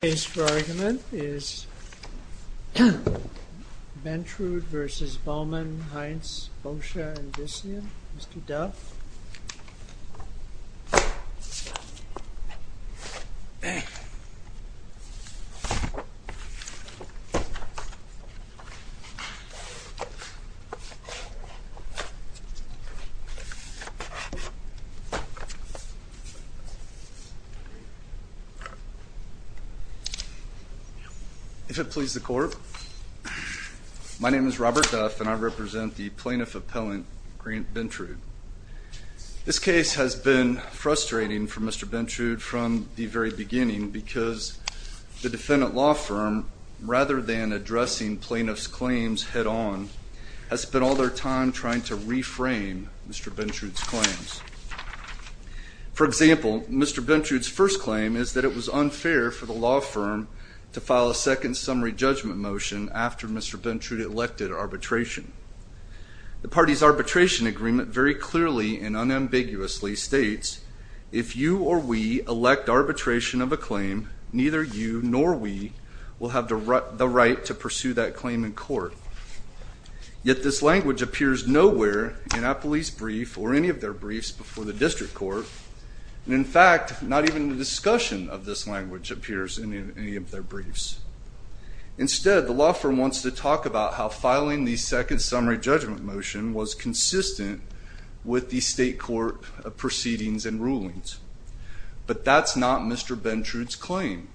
The case for argument is Bentrud v. Bowman, Heintz, Boscia & Vicia, Mr. Duff. If it pleases the court, my name is Robert Duff and I represent the plaintiff appellant Grant Bentrud. This case has been frustrating for Mr. Bentrud from the very beginning because the defendant law firm, rather than addressing plaintiff's claims head on, has spent all their time trying to reframe Mr. Bentrud's claims. For example, Mr. Bentrud's first claim is that it was unfair for the law firm to file a second summary judgment motion after Mr. Bentrud elected arbitration. The party's arbitration agreement very clearly and unambiguously states, if you or we elect arbitration of a claim, neither you nor we will have the right to pursue that claim in court. Yet this language appears nowhere in our police brief or any of their briefs before the district court. And in fact, not even the discussion of this language appears in any of their briefs. Instead, the law firm wants to talk about how filing the second summary judgment motion was consistent with the state court proceedings and rulings. But that's not Mr. Bentrud's claim.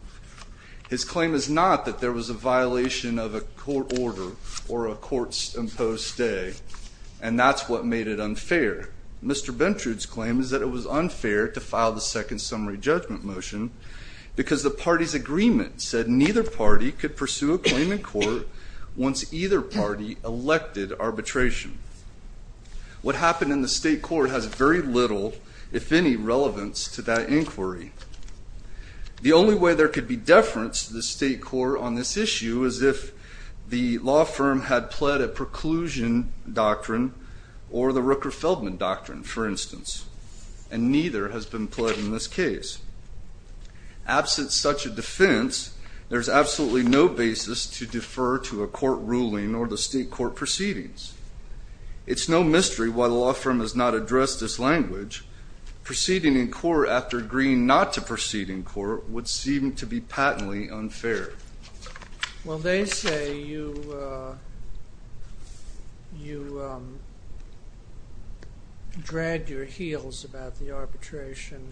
His claim is not that there was a violation of a court order or a court's imposed stay, and that's what made it unfair. Mr. Bentrud's claim is that it was unfair to file the second summary judgment motion because the party's agreement said neither party could pursue a claim in court once either party elected arbitration. What happened in the state court has very little, if any, relevance to that inquiry. The only way there could be deference to the state court on this issue is if the law firm had pled a preclusion doctrine or the Rooker-Feldman doctrine, for instance, and neither has been pled in this case. Absent such a defense, there's absolutely no basis to defer to a court ruling or the state court proceedings. It's no mystery why the law firm has not addressed this language. Proceeding in court after agreeing not to proceed in court would seem to be patently unfair. Well, they say you dragged your heels about the arbitration.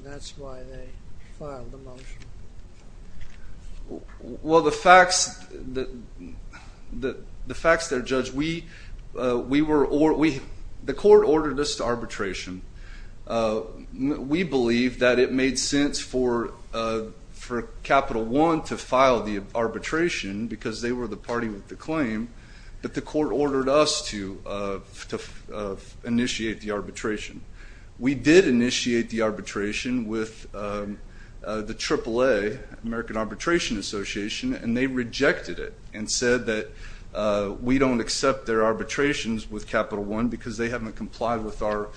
Well, the facts that are judged, we were, the court ordered us to arbitration. We believe that it made sense for Capital One to file the arbitration because they were the party with the claim, but the court ordered us to initiate the arbitration. We did initiate the arbitration with the AAA, American Arbitration Association, and they rejected it and said that we don't accept their arbitrations with Capital One because they haven't complied with our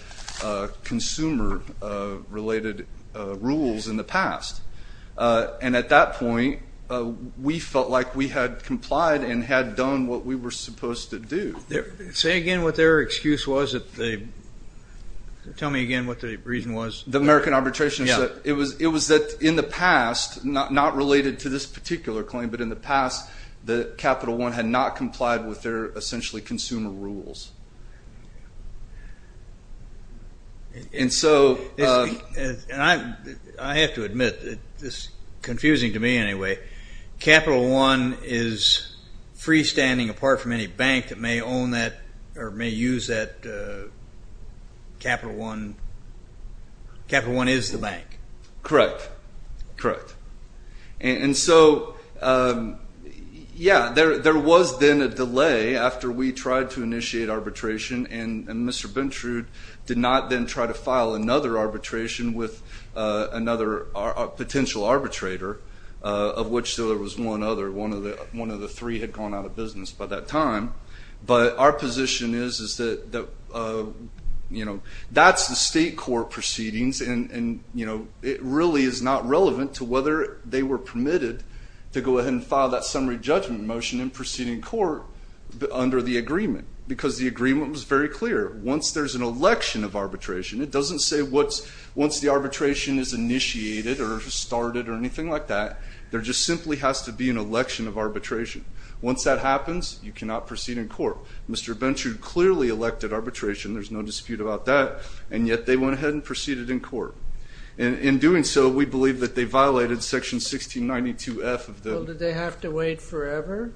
consumer-related rules in the past. And at that point, we felt like we had complied and had done what we were supposed to do. Say again what their excuse was that they, tell me again what the reason was. The American Arbitration Association, it was that in the past, not related to this particular claim, but in the past that Capital One had not complied with their essentially consumer rules. And so I have to admit, it's confusing to me anyway, Capital One is freestanding apart from any bank that may own that or may use that Capital One, Capital One is the bank. Correct, correct. And so, yeah, there was then a delay after we tried to initiate arbitration and Mr. Bintrude did not then try to file another arbitration with another potential arbitrator of which there was one other. One of the three had gone out of business by that time. But our position is that that's the state court proceedings and it really is not relevant to whether they were permitted to go ahead and file that summary judgment motion in proceeding court under the agreement because the agreement was very clear. Once there's an election of arbitration, it doesn't say once the arbitration is initiated or started or anything like that, there just simply has to be an election of arbitration. Once that happens, you cannot proceed in court. Mr. Bintrude clearly elected arbitration, there's no dispute about that, and yet they went ahead and proceeded in court. In doing so, we believe that they violated Section 1692F of the… Well, did they have to wait forever?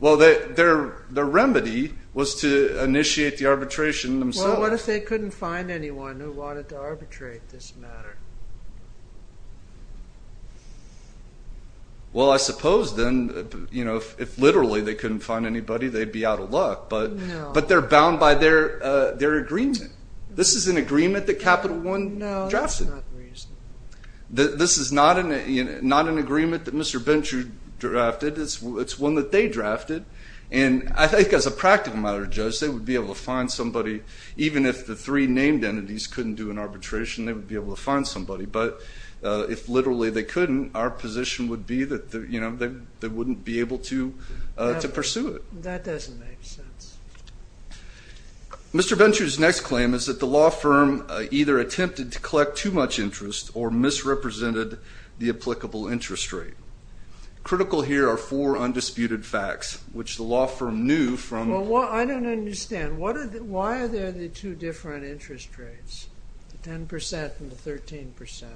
Well, their remedy was to initiate the arbitration themselves. Well, what if they couldn't find anyone who wanted to arbitrate this matter? Well, I suppose then, you know, if literally they couldn't find anybody, they'd be out of luck. No. But they're bound by their agreement. This is an agreement that Capital One drafted. No, that's not reasonable. This is not an agreement that Mr. Bintrude drafted. It's one that they drafted. And I think as a practical matter, Judge, they would be able to find somebody. Even if the three named entities couldn't do an arbitration, they would be able to find somebody. But if literally they couldn't, our position would be that they wouldn't be able to pursue it. That doesn't make sense. Mr. Bintrude's next claim is that the law firm either attempted to collect too much interest or misrepresented the applicable interest rate. Critical here are four undisputed facts, which the law firm knew from the Well, I don't understand. Why are there the two different interest rates, the 10% and the 13%?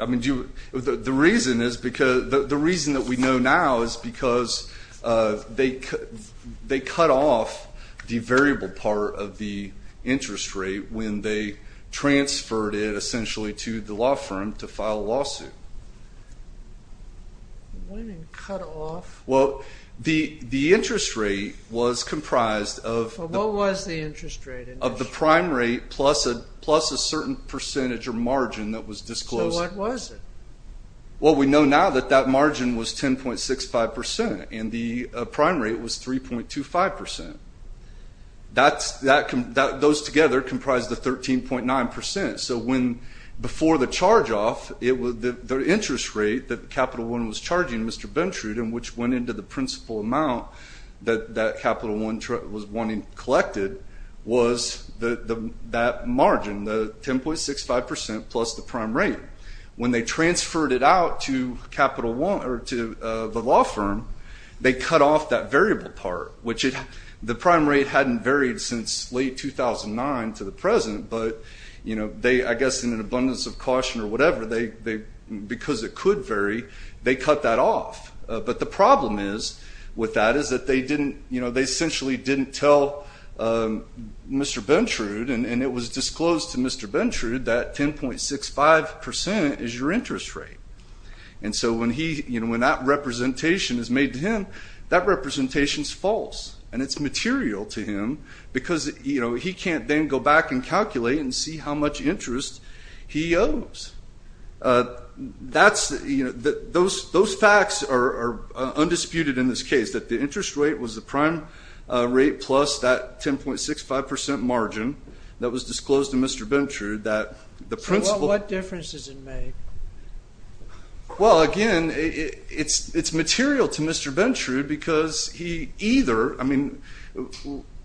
I mean, the reason that we know now is because they cut off the variable part of the interest rate when they transferred it essentially to the law firm to file a lawsuit. What do you mean cut off? Well, the interest rate was comprised of What was the interest rate? Of the prime rate plus a certain percentage or margin that was disclosed. So what was it? Well, we know now that that margin was 10.65% and the prime rate was 3.25%. Those together comprise the 13.9%. So before the charge-off, the interest rate that Capital One was charging Mr. Bintrude and which went into the principal amount that Capital One was wanting collected was that margin, the 10.65% plus the prime rate. When they transferred it out to the law firm, they cut off that variable part, which the prime rate hadn't varied since late 2009 to the present, but I guess in an abundance of caution or whatever, because it could vary, they cut that off. But the problem with that is that they essentially didn't tell Mr. Bintrude, and it was disclosed to Mr. Bintrude that 10.65% is your interest rate. And so when that representation is made to him, that representation is false, and it's material to him because he can't then go back and calculate and see how much interest he owes. Those facts are undisputed in this case, that the interest rate was the prime rate plus that 10.65% margin that was disclosed to Mr. Bintrude. So what difference does it make? Well, again, it's material to Mr. Bintrude because he either, I mean,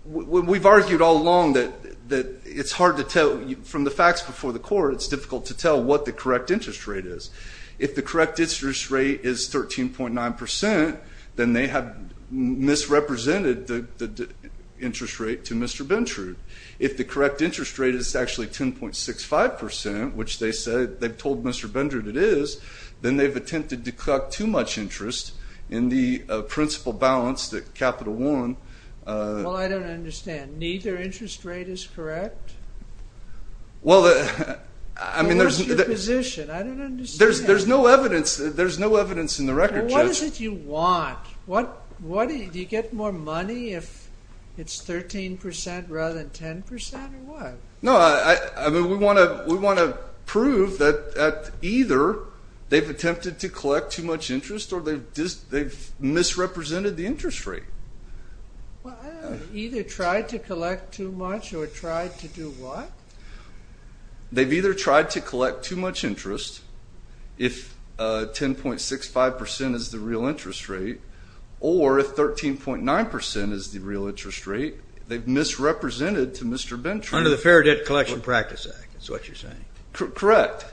we've argued all along that it's hard to tell from the facts before the court, it's difficult to tell what the correct interest rate is. If the correct interest rate is 13.9%, then they have misrepresented the interest rate to Mr. Bintrude. If the correct interest rate is actually 10.65%, which they've told Mr. Bintrude it is, then they've attempted to collect too much interest in the principal balance, the capital one. Well, I don't understand. Neither interest rate is correct? Well, I mean, there's... What's your position? I don't understand. There's no evidence in the record, Judge. Well, what is it you want? Do you get more money if it's 13% rather than 10% or what? No, I mean, we want to prove that either they've attempted to collect too much interest or they've misrepresented the interest rate. Either tried to collect too much or tried to do what? They've either tried to collect too much interest if 10.65% is the real interest rate or if 13.9% is the real interest rate. They've misrepresented to Mr. Bintrude. Under the Fair Debt Collection Practice Act is what you're saying. Correct.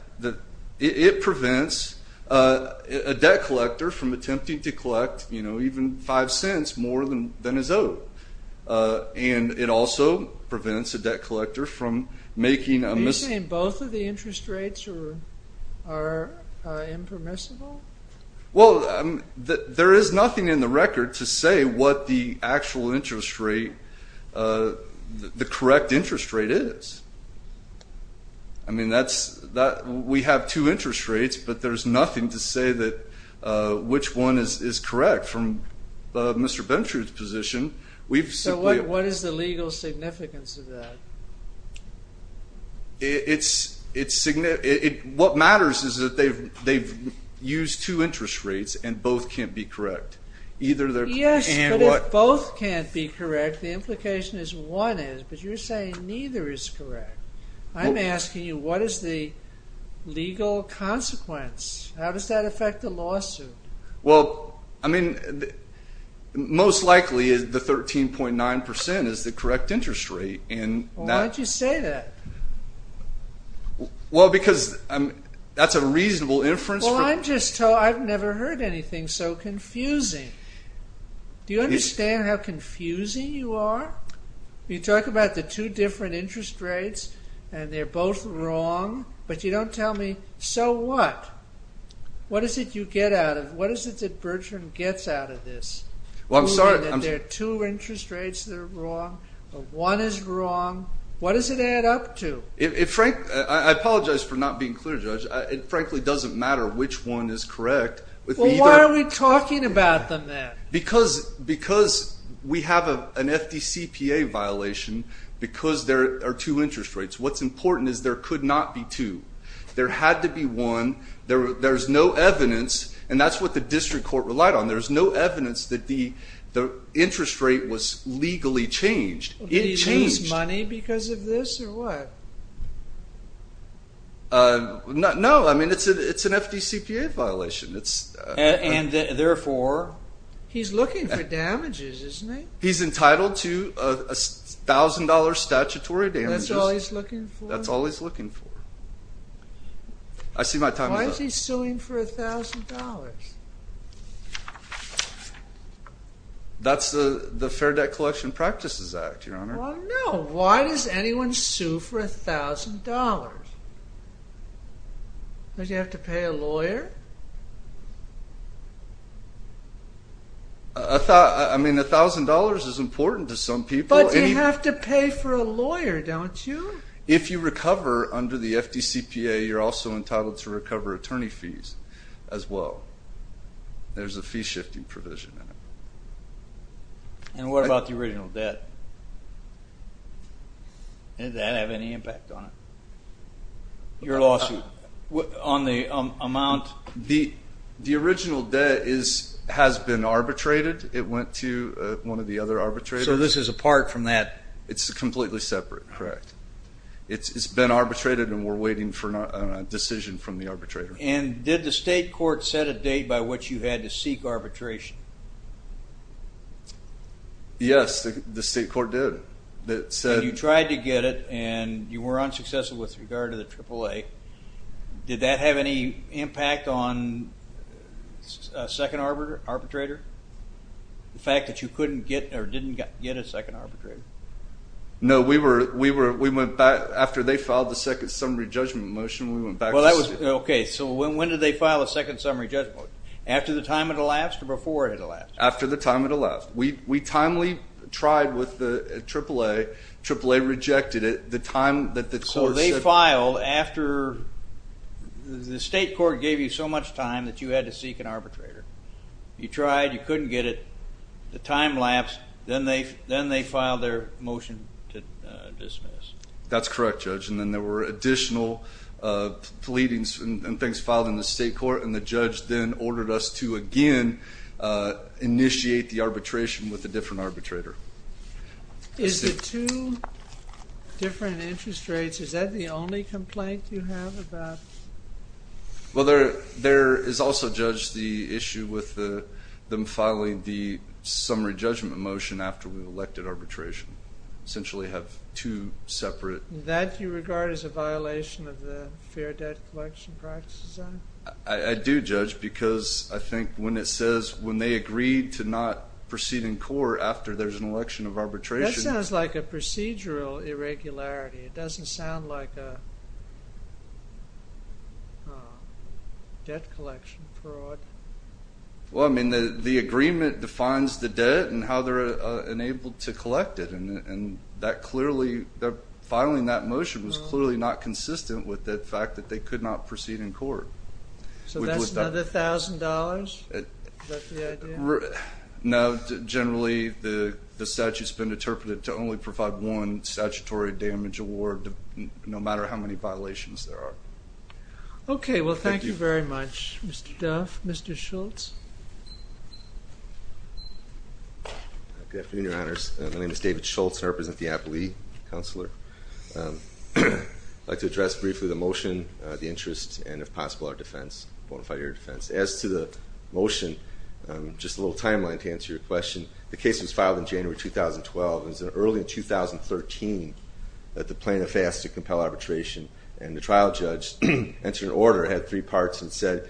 It prevents a debt collector from attempting to collect, you know, even five cents more than is owed. And it also prevents a debt collector from making a mis... Are you saying both of the interest rates are impermissible? Well, there is nothing in the record to say what the actual interest rate, the correct interest rate is. I mean, we have two interest rates, but there's nothing to say that which one is correct from Mr. Bintrude's position. So what is the legal significance of that? What matters is that they've used two interest rates and both can't be correct. Yes, but if both can't be correct, the implication is one is. But you're saying neither is correct. I'm asking you, what is the legal consequence? How does that affect the lawsuit? Well, I mean, most likely the 13.9% is the correct interest rate. Well, why'd you say that? Well, because that's a reasonable inference. Well, I'm just told I've never heard anything so confusing. Do you understand how confusing you are? You talk about the two different interest rates and they're both wrong, but you don't tell me, so what? What is it you get out of it? What is it that Bertrand gets out of this? Well, I'm sorry. There are two interest rates that are wrong. One is wrong. What does it add up to? I apologize for not being clear, Judge. It frankly doesn't matter which one is correct. Well, why are we talking about them then? Because we have an FDCPA violation because there are two interest rates. What's important is there could not be two. There had to be one. There's no evidence, and that's what the district court relied on. There's no evidence that the interest rate was legally changed. Did he lose money because of this or what? No, I mean, it's an FDCPA violation. And therefore? He's looking for damages, isn't he? He's entitled to $1,000 statutory damages. That's all he's looking for? That's all he's looking for. Why is he suing for $1,000? That's the Fair Debt Collection Practices Act, Your Honor. Well, no. Why does anyone sue for $1,000? Does he have to pay a lawyer? I mean, $1,000 is important to some people. But you have to pay for a lawyer, don't you? If you recover under the FDCPA, you're also entitled to recover attorney fees as well. There's a fee-shifting provision in it. And what about the original debt? Did that have any impact on it, your lawsuit, on the amount? The original debt has been arbitrated. It went to one of the other arbitrators. So this is apart from that? It's completely separate, correct. It's been arbitrated, and we're waiting for a decision from the arbitrator. And did the state court set a date by which you had to seek arbitration? Yes, the state court did. And you tried to get it, and you were unsuccessful with regard to the AAA. Did that have any impact on a second arbitrator, the fact that you couldn't get or didn't get a second arbitrator? No. After they filed the second summary judgment motion, we went back to the state. Okay. So when did they file a second summary judgment motion? After the time it elapsed or before it elapsed? After the time it elapsed. We timely tried with the AAA. AAA rejected it the time that the court said. So they filed after the state court gave you so much time that you had to seek an arbitrator. You tried. You couldn't get it. The time lapsed. Then they filed their motion to dismiss. That's correct, Judge. And then there were additional pleadings and things filed in the state court, and the judge then ordered us to, again, initiate the arbitration with a different arbitrator. Is the two different interest rates, is that the only complaint you have about? Well, there is also, Judge, the issue with them filing the summary judgment motion after we elected arbitration. Essentially have two separate. That you regard as a violation of the Fair Debt Collection Practices Act? I do, Judge, because I think when it says when they agreed to not proceed in court after there's an election of arbitration. That sounds like a procedural irregularity. It doesn't sound like a debt collection fraud. Well, I mean, the agreement defines the debt and how they're enabled to collect it, and filing that motion was clearly not consistent with the fact that they could not proceed in court. So that's another $1,000? Is that the idea? No. Generally, the statute's been interpreted to only provide one statutory damage award, no matter how many violations there are. Okay. Well, thank you very much, Mr. Duff. Mr. Schultz? Good afternoon, Your Honors. My name is David Schultz. I represent the Appellee Counselor. I'd like to address briefly the motion, the interest, and if possible, our defense, bonafide area defense. As to the motion, just a little timeline to answer your question. The case was filed in January 2012. It was early in 2013 that the plaintiff asked to compel arbitration, and the trial judge entered an order, had three parts, and said,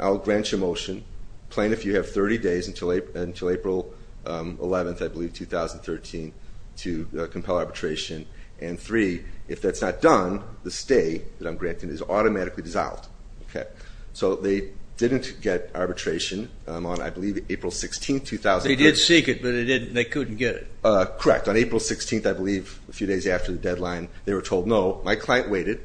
I'll grant you a motion. Plaintiff, you have 30 days until April 11th, I believe, 2013 to compel arbitration. And three, if that's not done, the stay that I'm granting is automatically dissolved. Okay. So they didn't get arbitration on, I believe, April 16th, 2013. They did seek it, but they couldn't get it. Correct. On April 16th, I believe, a few days after the deadline, they were told no. My client waited,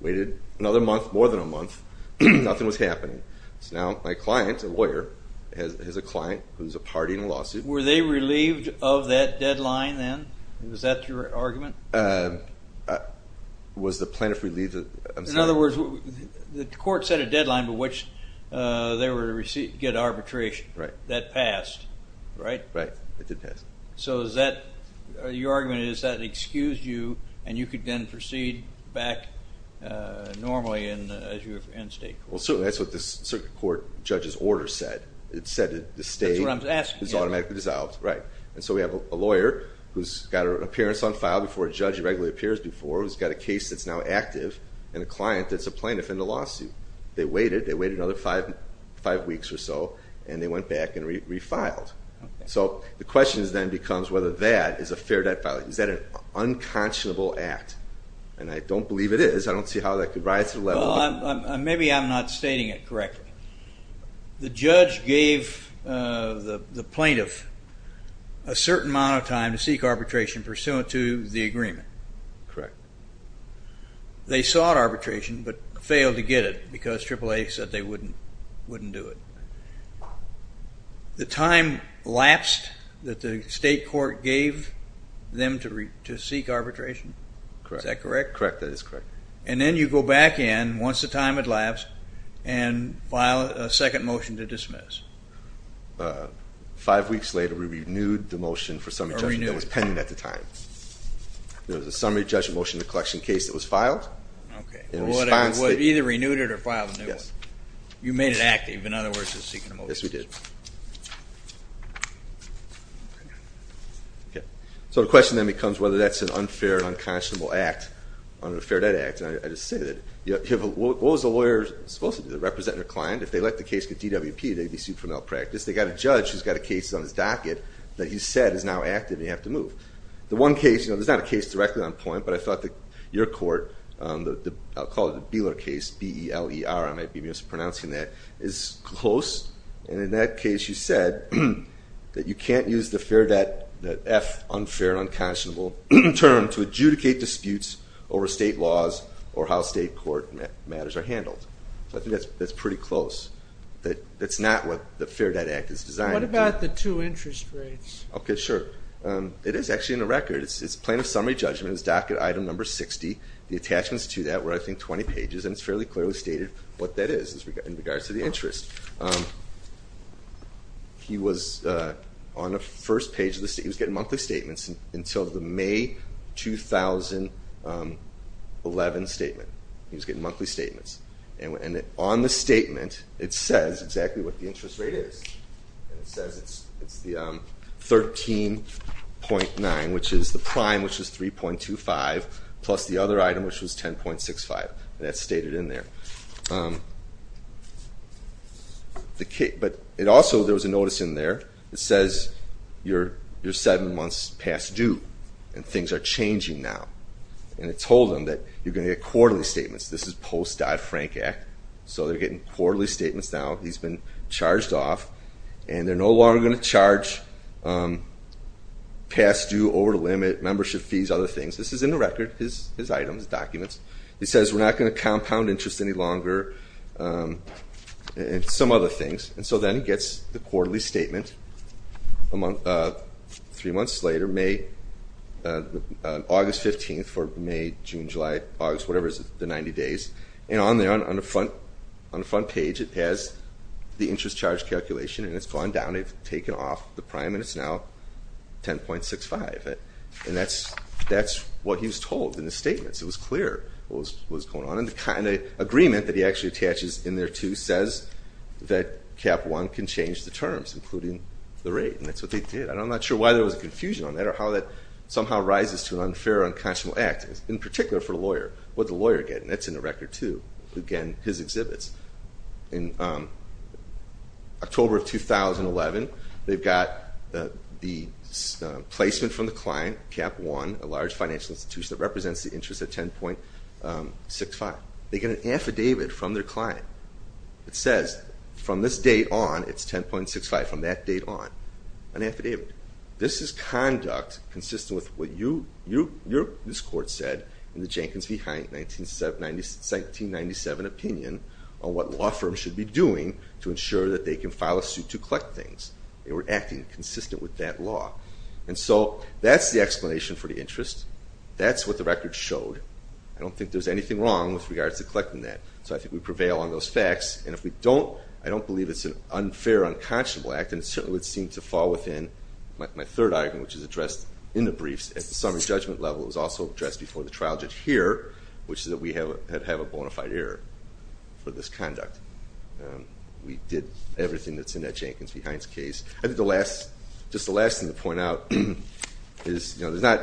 waited another month, more than a month. Nothing was happening. So now my client, a lawyer, has a client who's a party in a lawsuit. Were they relieved of that deadline then? Was that your argument? Was the plaintiff relieved? I'm sorry. In other words, the court set a deadline by which they were to get arbitration. Right. That passed, right? Right. It did pass. So is that your argument is that it excused you, and you could then proceed back normally as you were in state court? Well, certainly that's what the circuit court judge's order said. It said that the stay is automatically dissolved. Right. And so we have a lawyer who's got an appearance on file before a judge regularly appears before, who's got a case that's now active, and a client that's a plaintiff in the lawsuit. They waited. They waited another five weeks or so, and they went back and refiled. Okay. So the question then becomes whether that is a fair debt filing. Is that an unconscionable act? And I don't believe it is. I don't see how that could rise to the level. Well, maybe I'm not stating it correctly. The judge gave the plaintiff a certain amount of time to seek arbitration pursuant to the agreement. Correct. They sought arbitration but failed to get it because AAA said they wouldn't do it. The time lapsed that the state court gave them to seek arbitration? Correct. Is that correct? Correct. That is correct. And then you go back in, once the time had lapsed, and file a second motion to dismiss. Five weeks later, we renewed the motion for summary judgment that was pending at the time. There was a summary judgment motion to collection case that was filed. Okay. Either renewed it or filed a new one. Yes. You made it active. In other words, you're seeking a motion. Yes, we did. Okay. So the question then becomes whether that's an unfair and unconscionable act, unfair debt act. And I just say that. What was the lawyer supposed to do? They represent their client. If they let the case get DWP, they'd be sued for malpractice. They've got a judge who's got a case on his docket that he said is now active and you have to move. The one case, you know, there's not a case directly on point, but I thought that your court, I'll call it the Beeler case, B-E-L-E-R, I might be mispronouncing that, is close. And in that case you said that you can't use the fair debt, the F unfair and unconscionable term to adjudicate disputes over state laws or how state court matters are handled. So I think that's pretty close. That's not what the Fair Debt Act is designed to do. What about the two interest rates? Okay, sure. It is actually in the record. It's a plan of summary judgment. It's docket item number 60. The attachments to that were, I think, 20 pages. And it's fairly clearly stated what that is in regards to the interest. He was on the first page of the statement. He was getting monthly statements until the May 2011 statement. He was getting monthly statements. And on the statement it says exactly what the interest rate is. It says it's the 13.9, which is the prime, which is 3.25, plus the other item, which was 10.65. That's stated in there. But also there was a notice in there that says you're seven months past due and things are changing now. And it told him that you're going to get quarterly statements. This is post-Dodd-Frank Act. So they're getting quarterly statements now. He's been charged off. And they're no longer going to charge past due, over the limit, membership fees, other things. This is in the record, his items, documents. It says we're not going to compound interest any longer and some other things. And so then he gets the quarterly statement three months later, August 15th for May, June, July, August, whatever is the 90 days. And on the front page it has the interest charge calculation, and it's gone down. They've taken off the prime, and it's now 10.65. And that's what he was told in the statements. It was clear what was going on. And the agreement that he actually attaches in there, too, says that Cap One can change the terms, including the rate. And that's what they did. And I'm not sure why there was a confusion on that or how that somehow rises to an unfair, unconscionable act, in particular for the lawyer. What did the lawyer get? And that's in the record, too. Again, his exhibits. In October of 2011, they've got the placement from the client, Cap One, a large financial institution that represents the interest at 10.65. They get an affidavit from their client that says, from this date on it's 10.65, from that date on. An affidavit. This is conduct consistent with what you, this court said, in the Jenkins v. Hyatt 1997 opinion on what law firms should be doing to ensure that they can file a suit to collect things. They were acting consistent with that law. And so that's the explanation for the interest. That's what the record showed. I don't think there's anything wrong with regards to collecting that. So I think we prevail on those facts. And if we don't, I don't believe it's an unfair, unconscionable act, and it certainly would seem to fall within my third argument, which is addressed in the briefs at the summary judgment level. It was also addressed before the trial judge here, which is that we have a bona fide error for this conduct. We did everything that's in that Jenkins v. Hines case. I think the last, just the last thing to point out is there's not,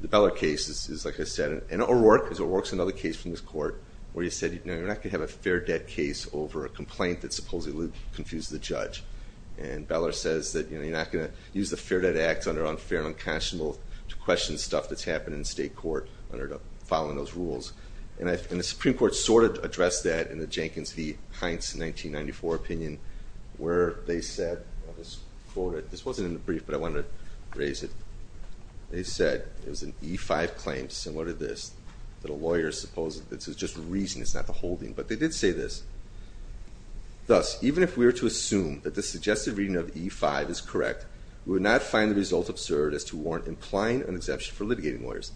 the Beller case is, like I said, an O'Rourke, because O'Rourke's another case from this court where he said, you're not going to have a fair debt case over a complaint that supposedly confused the judge. And Beller says that you're not going to use the fair debt act under unfair and unconscionable to question stuff that's happened in state court under following those rules. And the Supreme Court sort of addressed that in the Jenkins v. Hines 1994 opinion where they said, I'll just quote it. This wasn't in the brief, but I wanted to raise it. They said it was an E-5 claim, similar to this, that a lawyer supposedly, this is just the reason, it's not the holding, but they did say this. Thus, even if we were to assume that the suggested reading of E-5 is correct, we would not find the result absurd as to warrant implying an exemption for litigating lawyers.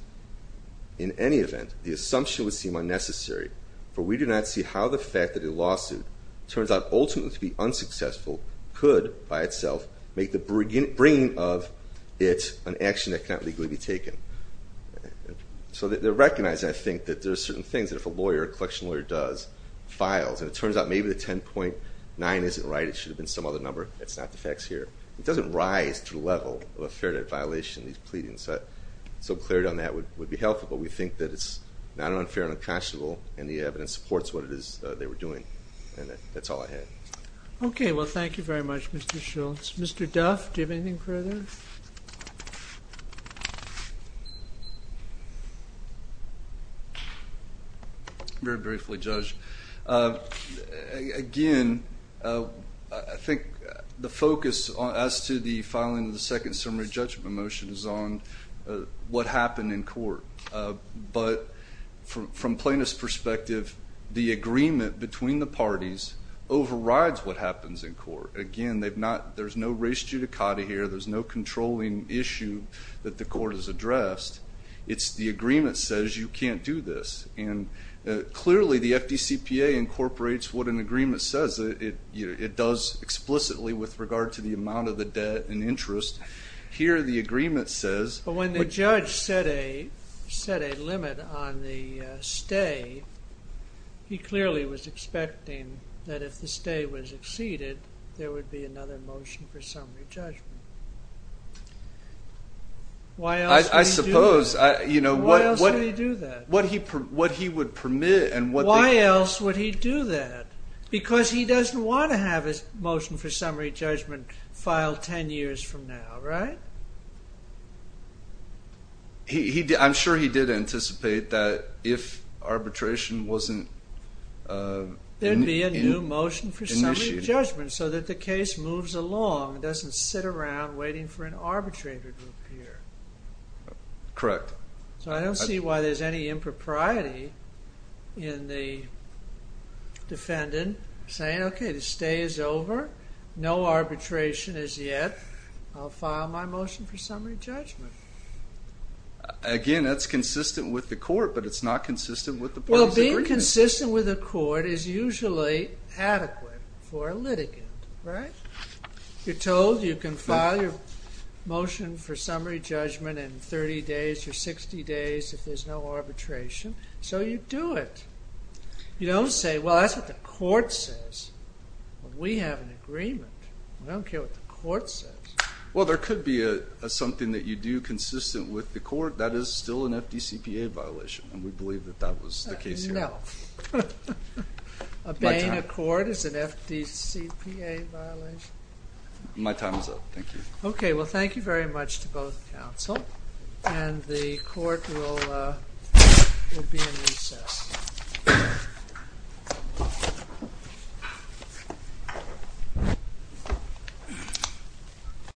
In any event, the assumption would seem unnecessary, for we do not see how the fact that a lawsuit turns out ultimately to be unsuccessful could, by itself, make the bringing of it an action that cannot legally be taken. So they're recognizing, I think, that there are certain things that if a lawyer, a collection lawyer does, files, and it turns out maybe the 10.9 isn't right, it should have been some other number, that's not the facts here. It doesn't rise to the level of a fair debt violation in these pleadings. So clarity on that would be helpful, but we think that it's not unfair and unconscionable, and the evidence supports what it is they were doing. And that's all I had. Okay, well, thank you very much, Mr. Shultz. Mr. Duff, do you have anything further? Very briefly, Judge. Again, I think the focus as to the filing of the second summary judgment motion is on what happened in court. But from Plaintiff's perspective, the agreement between the parties overrides what happens in court. Again, there's no race judicata here, there's no controlling issue that the court has addressed. It's the agreement says you can't do this. And clearly, the FDCPA incorporates what an agreement says it does explicitly with regard to the amount of the debt and interest. Here, the agreement says... set a limit on the stay. He clearly was expecting that if the stay was exceeded, there would be another motion for summary judgment. Why else would he do that? I suppose, you know... Why else would he do that? Why else would he do that? Because he doesn't want to have a motion for summary judgment filed 10 years from now, right? He... I'm sure he did anticipate that if arbitration wasn't... There'd be a new motion for summary judgment so that the case moves along, doesn't sit around waiting for an arbitrator to appear. Correct. So I don't see why there's any impropriety in the defendant saying, okay, the stay is over, no arbitration is yet, I'll file my motion for summary judgment. Again, that's consistent with the court, but it's not consistent with the parties' agreement. Well, being consistent with the court is usually adequate for a litigant, right? You're told you can file your motion for summary judgment in 30 days or 60 days if there's no arbitration, so you do it. You don't say, well, that's what the court says. We have an agreement. We don't care what the court says. Well, there could be something that you do consistent with the court. That is still an FDCPA violation, and we believe that that was the case here. No. Obeying a court is an FDCPA violation? My time is up. Thank you. Okay, well, thank you very much to both counsel, and the court will be in recess. Thank you.